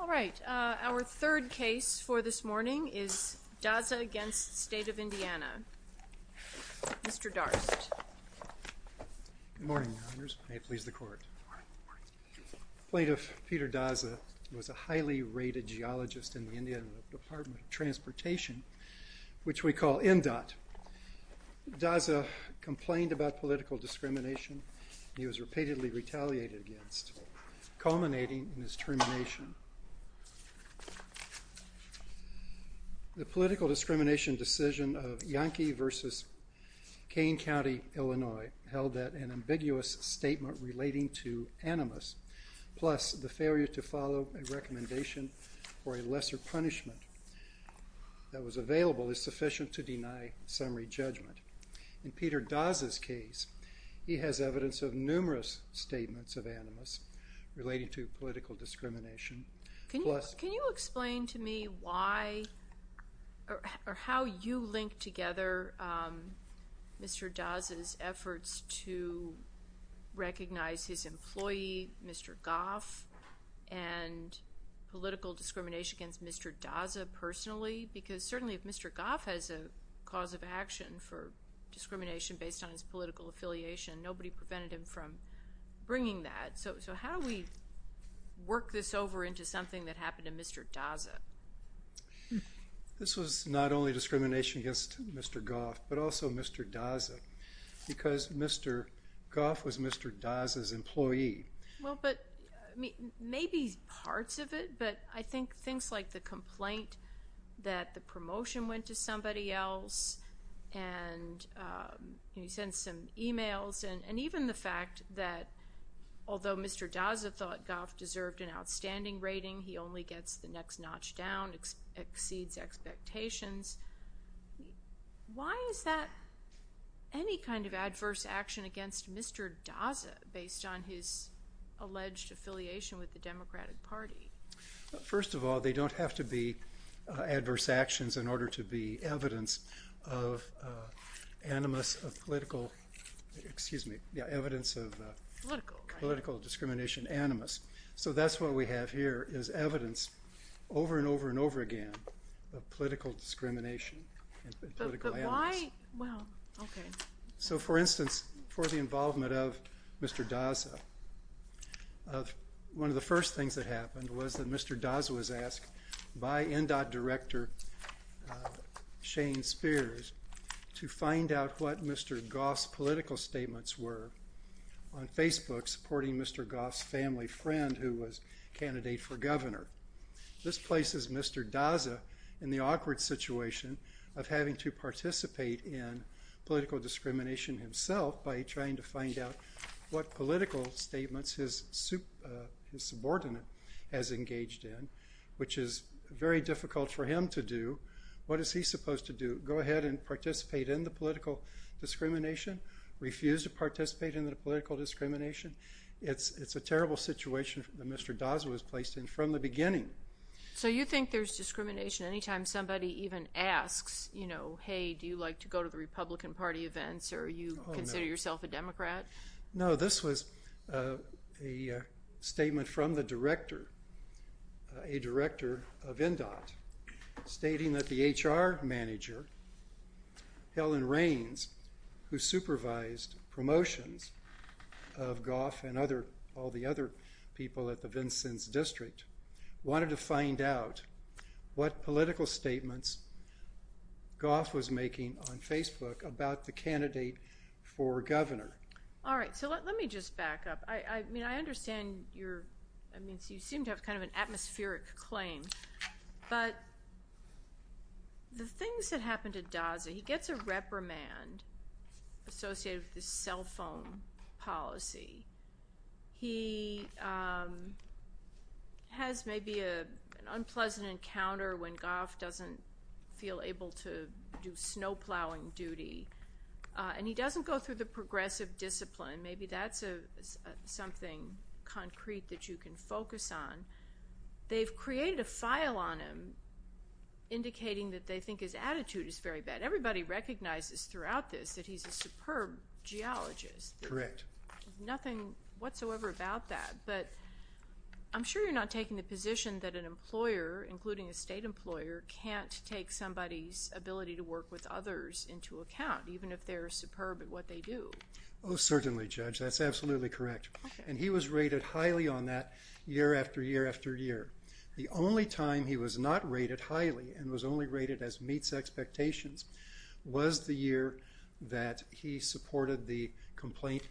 All right, our third case for this morning is Daza v. State of Indiana. Mr. Darst. Good morning, Your Honors. May it please the Court. Good morning. Plaintiff Peter Daza was a highly rated geologist in the Indiana Department of Transportation, which we call MDOT. Daza complained about political discrimination he was repeatedly retaliated against, culminating in his termination. The political discrimination decision of Yankee v. Kane County, Illinois held that an ambiguous statement relating to animus, plus the failure to follow a recommendation for a lesser punishment that was available, is sufficient to deny summary judgment. In Peter Daza's case, he has evidence of numerous statements of animus relating to political discrimination. Can you explain to me why or how you link together Mr. Daza's efforts to recognize his employee, Mr. Goff, and political discrimination against Mr. Daza personally? Because certainly if Mr. Goff has a cause of action for discrimination based on his political affiliation, nobody prevented him from bringing that. So how do we work this over into something that happened to Mr. Daza? This was not only discrimination against Mr. Goff, but also Mr. Daza, because Mr. Goff was Mr. Daza's employee. But maybe parts of it, but I think things like the complaint that the promotion went to somebody else, and he sent some emails, and even the fact that although Mr. Daza thought Goff deserved an outstanding rating, he only gets the next notch down, exceeds expectations. Why is that any kind of adverse action against Mr. Daza based on his alleged affiliation with the Democratic Party? First of all, they don't have to be adverse actions in order to be evidence of animus of political, excuse me, evidence of political discrimination animus. So that's what we have here, is evidence over and over and over again of political discrimination and political animus. So, for instance, for the involvement of Mr. Daza, one of the first things that happened was that Mr. Daza was asked by NDOT Director Shane Spears to find out what Mr. Goff's political statements were on Facebook, supporting Mr. Goff's family friend who was candidate for governor. This places Mr. Daza in the awkward situation of having to participate in political discrimination himself by trying to find out what political statements his subordinate has engaged in, which is very difficult for him to do. What is he supposed to do, go ahead and participate in the political discrimination, refuse to participate in the political discrimination? It's a terrible situation that Mr. Daza was placed in from the beginning. So you think there's discrimination anytime somebody even asks, you know, hey, do you like to go to the Republican Party events, or you consider yourself a Democrat? No, this was a statement from the director, a director of NDOT, stating that the HR manager, Helen Raines, who supervised promotions of Goff and other, all the other people at the Vincennes District, wanted to find out what political statements Goff was making on Facebook about the candidate for governor. All right, so let me just back up. I mean, I understand your, I mean, you seem to have kind of an atmospheric claim, but the things that happen to Daza, he gets a reprimand associated with his cell phone policy. He has maybe an unpleasant encounter when Goff doesn't feel able to do snow plowing duty, and he doesn't go through the progressive discipline. Maybe that's something concrete that you can focus on. They've created a file on him indicating that they think his attitude is very bad. Everybody recognizes throughout this that he's a superb geologist. Correct. Nothing whatsoever about that, but I'm sure you're not taking the position that an employer, including a state employer, can't take somebody's ability to work with others into account, even if they're superb at what they do. Oh, certainly, Judge, that's absolutely correct. And he was rated highly on that year after year after year. The only time he was not rated highly and was only rated as meets expectations was the year that he supported the complaint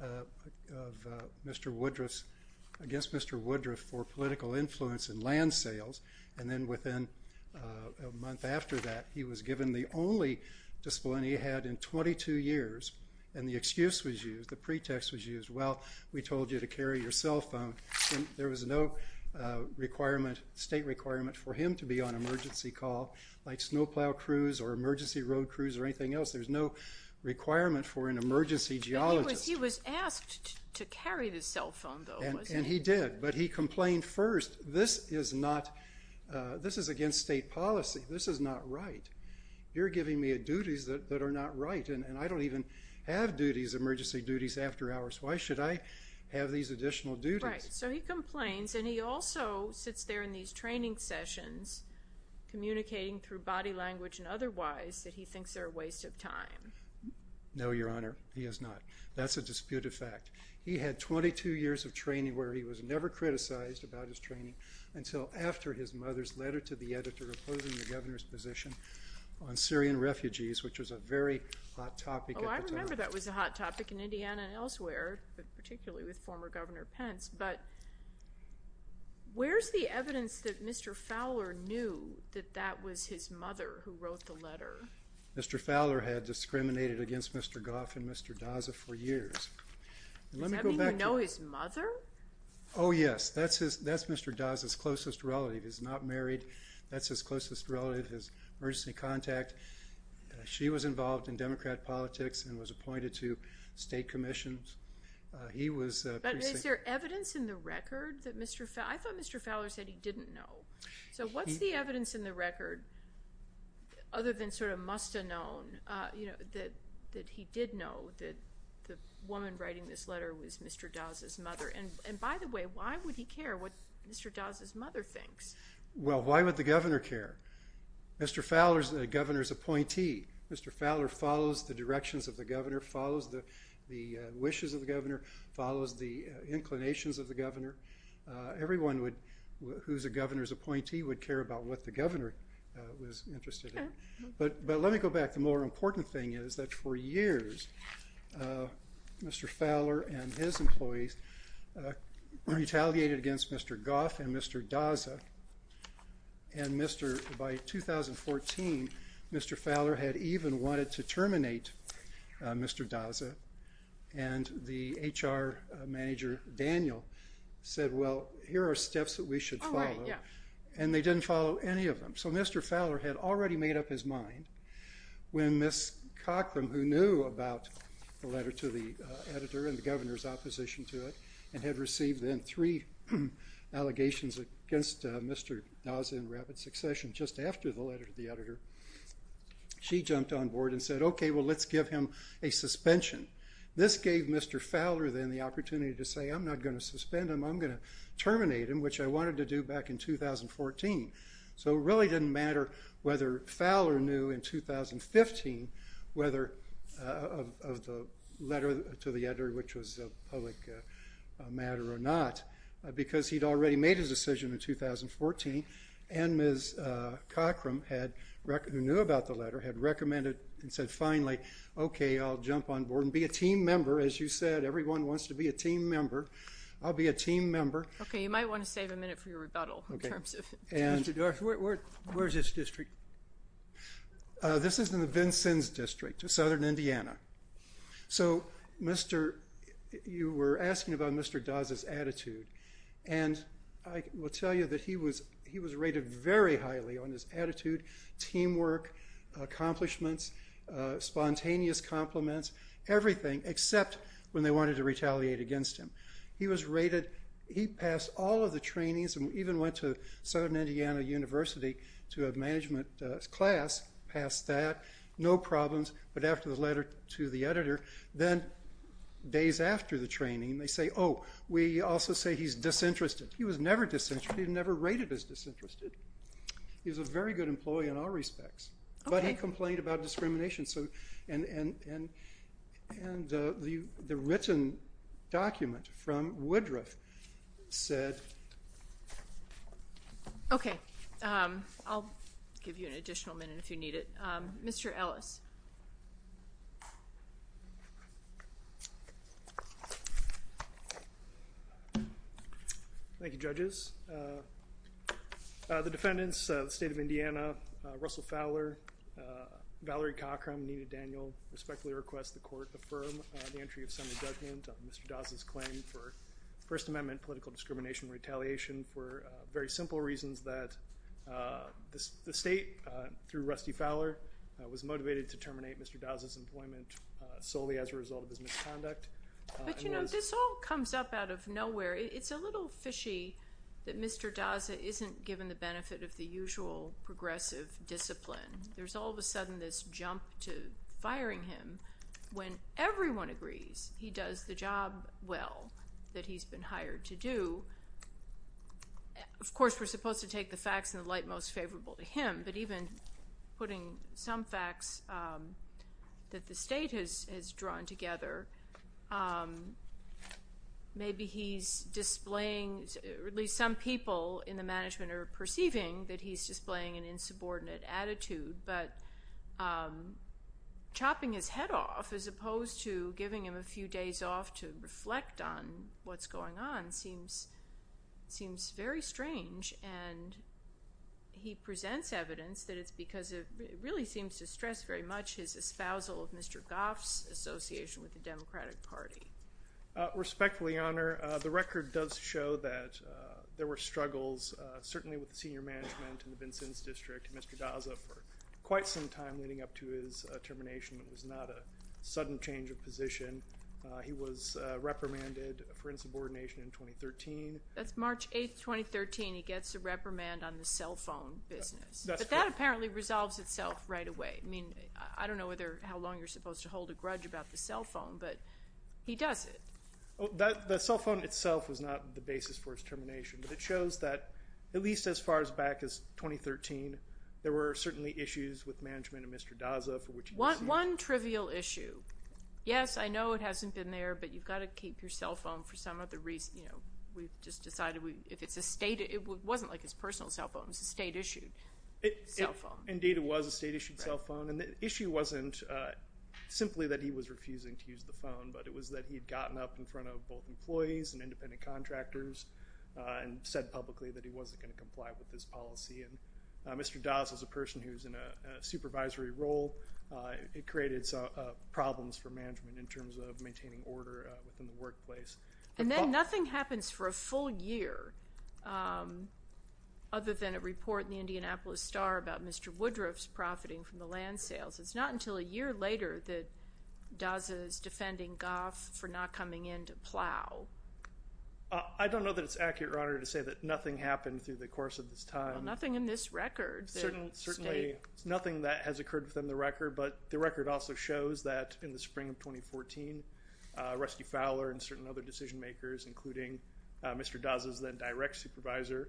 of Mr. Woodruff's, against Mr. Woodruff for political influence in land sales, and then within a month after that, he was given the only discipline he had in 22 years, and the excuse was used, the pretext was used. Well, we told you to carry your cell phone, and there was no requirement, state requirement for him to be on emergency call like snowplow crews or emergency road crews or anything else. There was no requirement for an emergency geologist. He was asked to carry the cell phone, though, wasn't he? And he did, but he complained first, this is not, this is against state policy. This is not right. You're giving me duties that are not right, and I don't even have duties, emergency duties, after hours. Why should I have these additional duties? Right. So he complains, and he also sits there in these training sessions communicating through body language and otherwise that he thinks they're a waste of time. No, Your Honor, he is not. That's a disputed fact. He had 22 years of training where he was never criticized about his training until after his mother's letter to the editor opposing the governor's position on Syrian refugees, which was a very hot topic at the time. So I remember that was a hot topic in Indiana and elsewhere, but particularly with former Governor Pence. But where's the evidence that Mr. Fowler knew that that was his mother who wrote the letter? Mr. Fowler had discriminated against Mr. Goff and Mr. Daza for years. Does that mean you know his mother? Oh, yes. That's Mr. Daza's closest relative. He's not married. That's his closest relative, his emergency contact. She was involved in Democrat politics and was appointed to state commissions. But is there evidence in the record that Mr. Fowler – I thought Mr. Fowler said he didn't know. So what's the evidence in the record, other than sort of must have known, that he did know that the woman writing this letter was Mr. Daza's mother? And by the way, why would he care what Mr. Daza's mother thinks? Well, why would the governor care? Mr. Fowler is the governor's appointee. Mr. Fowler follows the directions of the governor, follows the wishes of the governor, follows the inclinations of the governor. Everyone who's a governor's appointee would care about what the governor was interested in. But let me go back. The more important thing is that for years, Mr. Fowler and his employees retaliated against Mr. Goff and Mr. Daza. And Mr. – by 2014, Mr. Fowler had even wanted to terminate Mr. Daza. And the HR manager, Daniel, said, well, here are steps that we should follow. Oh, right, yeah. And they didn't follow any of them. So Mr. Fowler had already made up his mind when Ms. Cockram, who knew about the letter to the editor and the governor's opposition to it and had received then three allegations against Mr. Daza in rapid succession just after the letter to the editor, she jumped on board and said, okay, well, let's give him a suspension. This gave Mr. Fowler then the opportunity to say, I'm not going to suspend him, I'm going to terminate him, which I wanted to do back in 2014. So it really didn't matter whether Fowler knew in 2015 whether – of the letter to the editor, which was a public matter or not, because he'd already made his decision in 2014. And Ms. Cockram, who knew about the letter, had recommended and said, finally, okay, I'll jump on board and be a team member. As you said, everyone wants to be a team member. I'll be a team member. Okay, you might want to save a minute for your rebuttal in terms of – Where's this district? This is in the Vincennes District of southern Indiana. So you were asking about Mr. Daza's attitude, and I will tell you that he was rated very highly on his attitude, teamwork, accomplishments, spontaneous compliments, everything, except when they wanted to retaliate against him. He was rated – he passed all of the trainings and even went to southern Indiana University to a management class, passed that, no problems. But after the letter to the editor, then days after the training, they say, oh, we also say he's disinterested. He was never disinterested. He was never rated as disinterested. He was a very good employee in all respects. But he complained about discrimination. And the written document from Woodruff said – Okay. I'll give you an additional minute if you need it. Mr. Ellis. Thank you, judges. The defendants, the state of Indiana, Russell Fowler, Valerie Cochran, Anita Daniel, respectfully request the court affirm the entry of semi-judgment of Mr. Daza's claim for First Amendment political discrimination retaliation for very simple reasons that the state, through Rusty Fowler, was motivated to terminate Mr. Daza's employment solely as a result of his misconduct. But, you know, this all comes up out of nowhere. It's a little fishy that Mr. Daza isn't given the benefit of the usual progressive discipline. There's all of a sudden this jump to firing him when everyone agrees he does the job well, that he's been hired to do. Of course, we're supposed to take the facts in the light most favorable to him. But even putting some facts that the state has drawn together, maybe he's displaying, at least some people in the management are perceiving that he's displaying an insubordinate attitude. But chopping his head off as opposed to giving him a few days off to reflect on what's going on seems very strange. And he presents evidence that it's because it really seems to stress very much his espousal of Mr. Goff's association with the Democratic Party. Respectfully, Your Honor, the record does show that there were struggles, certainly with the senior management in the Vincennes District, Mr. Daza, for quite some time leading up to his termination. It was not a sudden change of position. He was reprimanded for insubordination in 2013. That's March 8, 2013. He gets a reprimand on the cell phone business. But that apparently resolves itself right away. I mean, I don't know how long you're supposed to hold a grudge about the cell phone, but he does it. The cell phone itself was not the basis for his termination, but it shows that at least as far back as 2013, there were certainly issues with management and Mr. Daza for which he was sued. One trivial issue. Yes, I know it hasn't been there, but you've got to keep your cell phone for some other reason. We've just decided if it's a state, it wasn't like his personal cell phone. It was a state-issued cell phone. Indeed, it was a state-issued cell phone. And the issue wasn't simply that he was refusing to use the phone, but it was that he had gotten up in front of both employees and independent contractors and said publicly that he wasn't going to comply with this policy. And Mr. Daza is a person who is in a supervisory role. It created problems for management in terms of maintaining order within the workplace. And then nothing happens for a full year other than a report in the Indianapolis Star about Mr. Woodruff's profiting from the land sales. It's not until a year later that Daza is defending Goff for not coming in to plow. I don't know that it's accurate, Your Honor, to say that nothing happened through the course of this time. Well, nothing in this record. Certainly nothing that has occurred within the record, but the record also shows that in the spring of 2014, Rusty Fowler and certain other decision-makers, including Mr. Daza's then direct supervisor,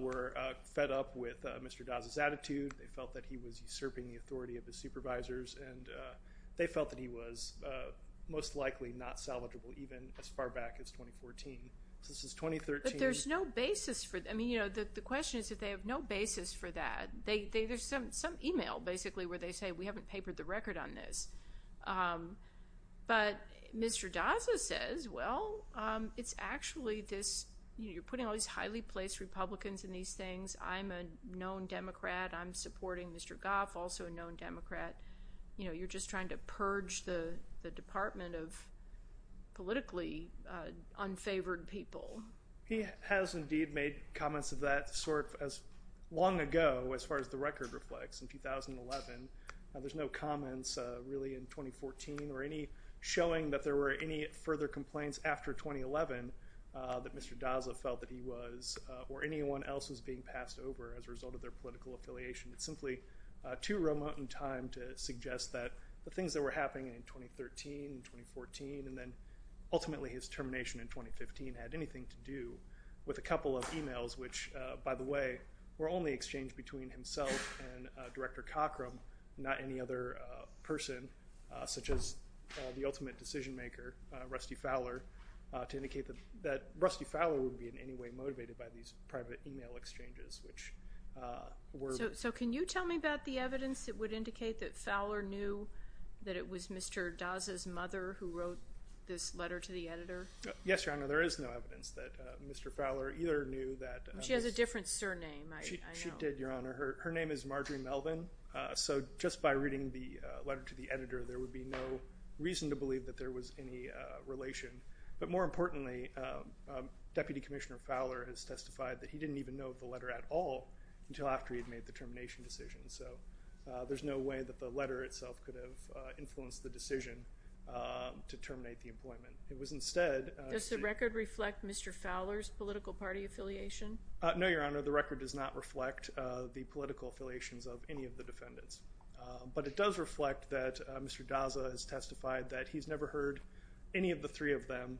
were fed up with Mr. Daza's attitude. They felt that he was usurping the authority of his supervisors, and they felt that he was most likely not salvageable even as far back as 2014. So this is 2013. But there's no basis for it. I mean, you know, the question is that they have no basis for that. There's some email, basically, where they say we haven't papered the record on this. But Mr. Daza says, well, it's actually this, you know, you're putting all these highly placed Republicans in these things. I'm a known Democrat. I'm supporting Mr. Goff, also a known Democrat. You know, you're just trying to purge the department of politically unfavored people. He has indeed made comments of that sort as long ago as far as the record reflects, in 2011. Now, there's no comments really in 2014 or any showing that there were any further complaints after 2011 that Mr. Daza felt that he was or anyone else was being passed over as a result of their political affiliation. It's simply too remote in time to suggest that the things that were happening in 2013 and 2014 and then ultimately his termination in 2015 had anything to do with a couple of emails, which, by the way, were only exchanged between himself and Director Cockrum, not any other person such as the ultimate decision maker, Rusty Fowler, to indicate that Rusty Fowler wouldn't be in any way motivated by these private email exchanges, which were. So can you tell me about the evidence that would indicate that Fowler knew that it was Mr. Daza's mother who wrote this letter to the editor? Yes, Your Honor. There is no evidence that Mr. Fowler either knew that. She has a different surname, I know. She did, Your Honor. Her name is Marjorie Melvin. So just by reading the letter to the editor, there would be no reason to believe that there was any relation. But more importantly, Deputy Commissioner Fowler has testified that he didn't even know of the letter at all until after he had made the termination decision. So there's no way that the letter itself could have influenced the decision to terminate the employment. It was instead— Does the record reflect Mr. Fowler's political party affiliation? No, Your Honor. The record does not reflect the political affiliations of any of the defendants. But it does reflect that Mr. Daza has testified that he's never heard any of the three of them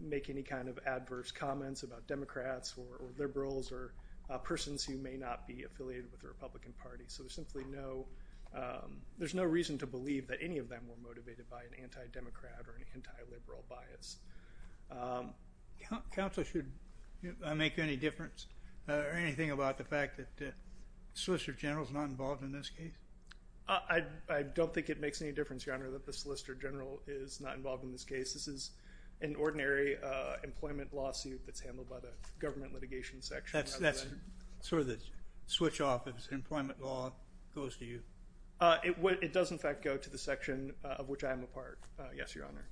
make any kind of adverse comments about Democrats or liberals or persons who may not be affiliated with the Republican Party. So there's simply no—there's no reason to believe that any of them were motivated by an anti-Democrat or an anti-liberal bias. Counsel, should I make any difference or anything about the fact that the Solicitor General is not involved in this case? I don't think it makes any difference, Your Honor, that the Solicitor General is not involved in this case. This is an ordinary employment lawsuit that's handled by the Government Litigation Section. That's sort of the switch off if employment law goes to you. It does, in fact, go to the section of which I am a part, yes, Your Honor.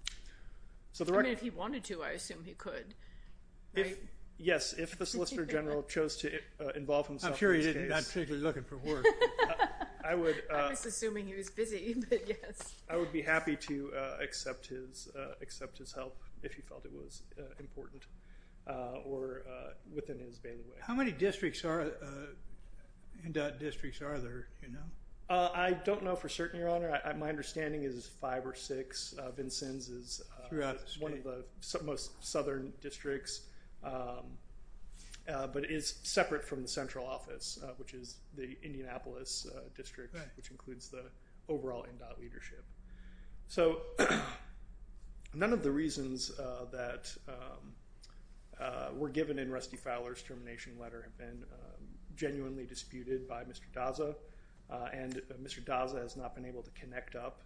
I mean, if he wanted to, I assume he could, right? Yes, if the Solicitor General chose to involve himself in this case— I'm sure he's not particularly looking for work. I was assuming he was busy, but yes. I would be happy to accept his help if he felt it was important or within his bailiwick. How many districts are—endowed districts are there, do you know? I don't know for certain, Your Honor. My understanding is five or six. One of the most southern districts, but it is separate from the central office, which is the Indianapolis district, which includes the overall endowed leadership. So none of the reasons that were given in Rusty Fowler's termination letter have been genuinely disputed by Mr. Daza, and Mr. Daza has not been able to connect up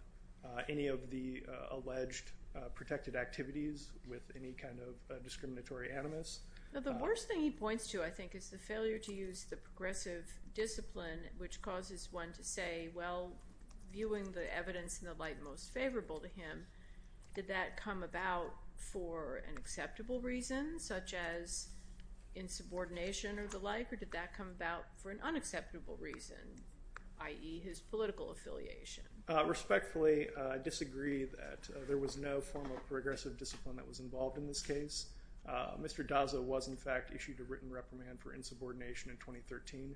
any of the alleged protected activities with any kind of discriminatory animus. The worst thing he points to, I think, is the failure to use the progressive discipline, which causes one to say, well, viewing the evidence in the light most favorable to him, did that come about for an acceptable reason, such as insubordination or the like, or did that come about for an unacceptable reason, i.e., his political affiliation? Respectfully, I disagree that there was no form of progressive discipline that was involved in this case. Mr. Daza was, in fact, issued a written reprimand for insubordination in 2013.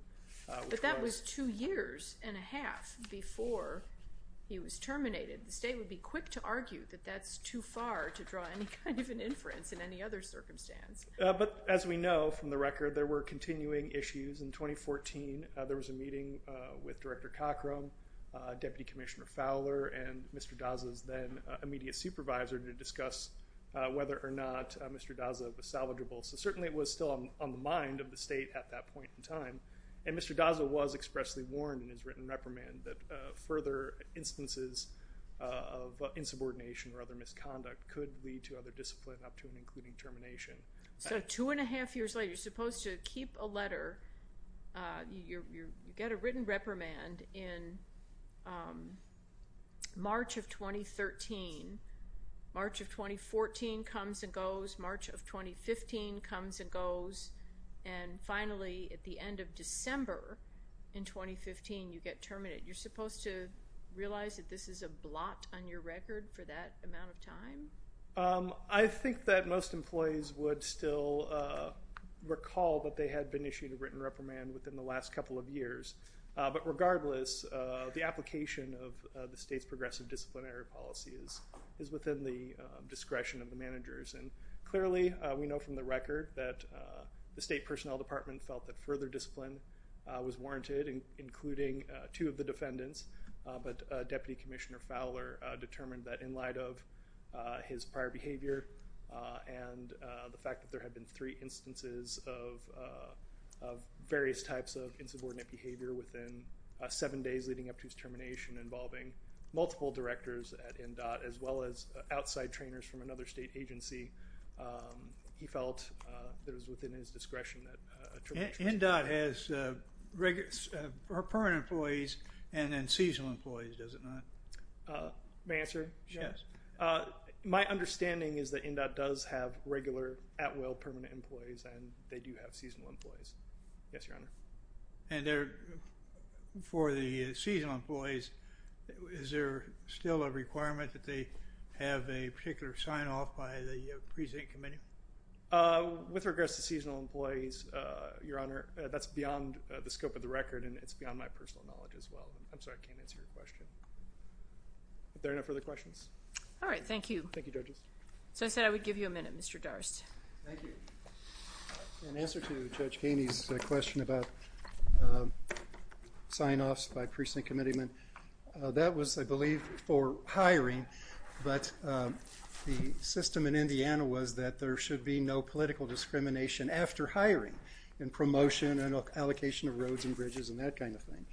But that was two years and a half before he was terminated. The state would be quick to argue that that's too far to draw any kind of an inference in any other circumstance. But as we know from the record, there were continuing issues. In 2014, there was a meeting with Director Cockrum, Deputy Commissioner Fowler, and Mr. Daza's then immediate supervisor to discuss whether or not Mr. Daza was salvageable. So certainly it was still on the mind of the state at that point in time. And Mr. Daza was expressly warned in his written reprimand that further instances of insubordination or other misconduct could lead to other discipline up to and including termination. So two and a half years later, you're supposed to keep a letter. You get a written reprimand in March of 2013. March of 2014 comes and goes. March of 2015 comes and goes. And finally, at the end of December in 2015, you get terminated. You're supposed to realize that this is a blot on your record for that amount of time? I think that most employees would still recall that they had been issued a written reprimand within the last couple of years. But regardless, the application of the state's progressive disciplinary policy is within the discretion of the managers. And clearly we know from the record that the State Personnel Department felt that further discipline was warranted, including two of the defendants. But Deputy Commissioner Fowler determined that in light of his prior behavior and the fact that there had been three instances of various types of insubordinate behavior within seven days leading up to his termination involving multiple directors at NDOT as well as outside trainers from another state agency, he felt that it was within his discretion. NDOT has permanent employees and then seasonal employees, does it not? May I answer? Yes. My understanding is that NDOT does have regular at-will permanent employees and they do have seasonal employees. Yes, Your Honor. And for the seasonal employees, is there still a requirement that they have a particular sign-off by the President Committee? With regards to seasonal employees, Your Honor, that's beyond the scope of the record and it's beyond my personal knowledge as well. I'm sorry, I can't answer your question. Are there no further questions? All right, thank you. Thank you, Judges. So I said I would give you a minute, Mr. Darst. Thank you. In answer to Judge Kaney's question about sign-offs by precinct committeemen, that was, I believe, for hiring, but the system in Indiana was that there should be no political discrimination after hiring and promotion and allocation of roads and bridges and that kind of thing.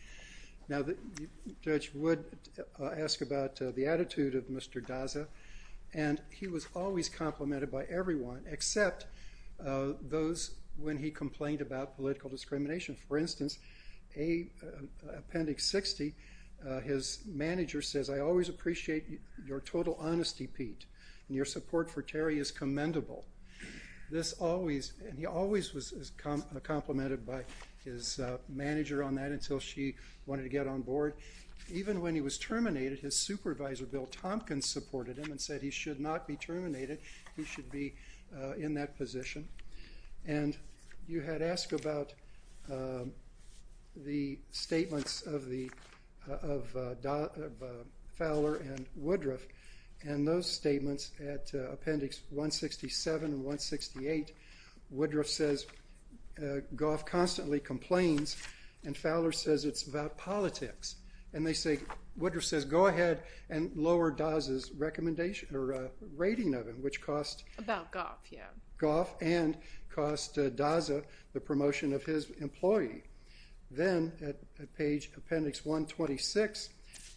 Now Judge Wood asked about the attitude of Mr. Daza, and he was always complimented by everyone except those when he complained about political discrimination. For instance, Appendix 60, his manager says, I always appreciate your total honesty, Pete, and your support for Terry is commendable. And he always was complimented by his manager on that until she wanted to get on board. Even when he was terminated, his supervisor, Bill Tompkins, supported him and said he should not be terminated, he should be in that position. And you had asked about the statements of Fowler and Woodruff, and those statements at Appendix 167 and 168, Woodruff says, Goff constantly complains, and Fowler says it's about politics. And they say, Woodruff says, go ahead and lower Daza's recommendation or rating of him, which costs. About Goff, yeah. Goff and costs Daza the promotion of his employee. Then at page Appendix 126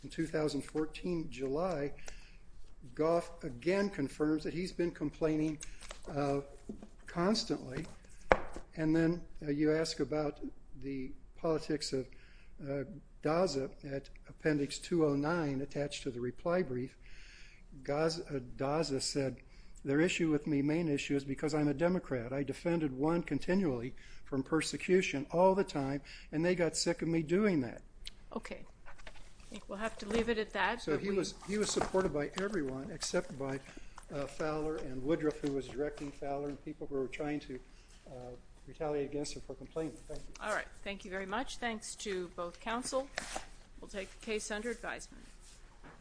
in 2014 July, Goff again confirms that he's been complaining constantly. And then you ask about the politics of Daza at Appendix 209 attached to the reply brief. Daza said their issue with me, main issue, is because I'm a Democrat. I defended one continually from persecution all the time, and they got sick of me doing that. Okay. I think we'll have to leave it at that. So he was supported by everyone except by Fowler and Woodruff, who was directing Fowler and people who were trying to retaliate against him for complaining. All right. Thank you very much. Thanks to both counsel. We'll take the case under advisement.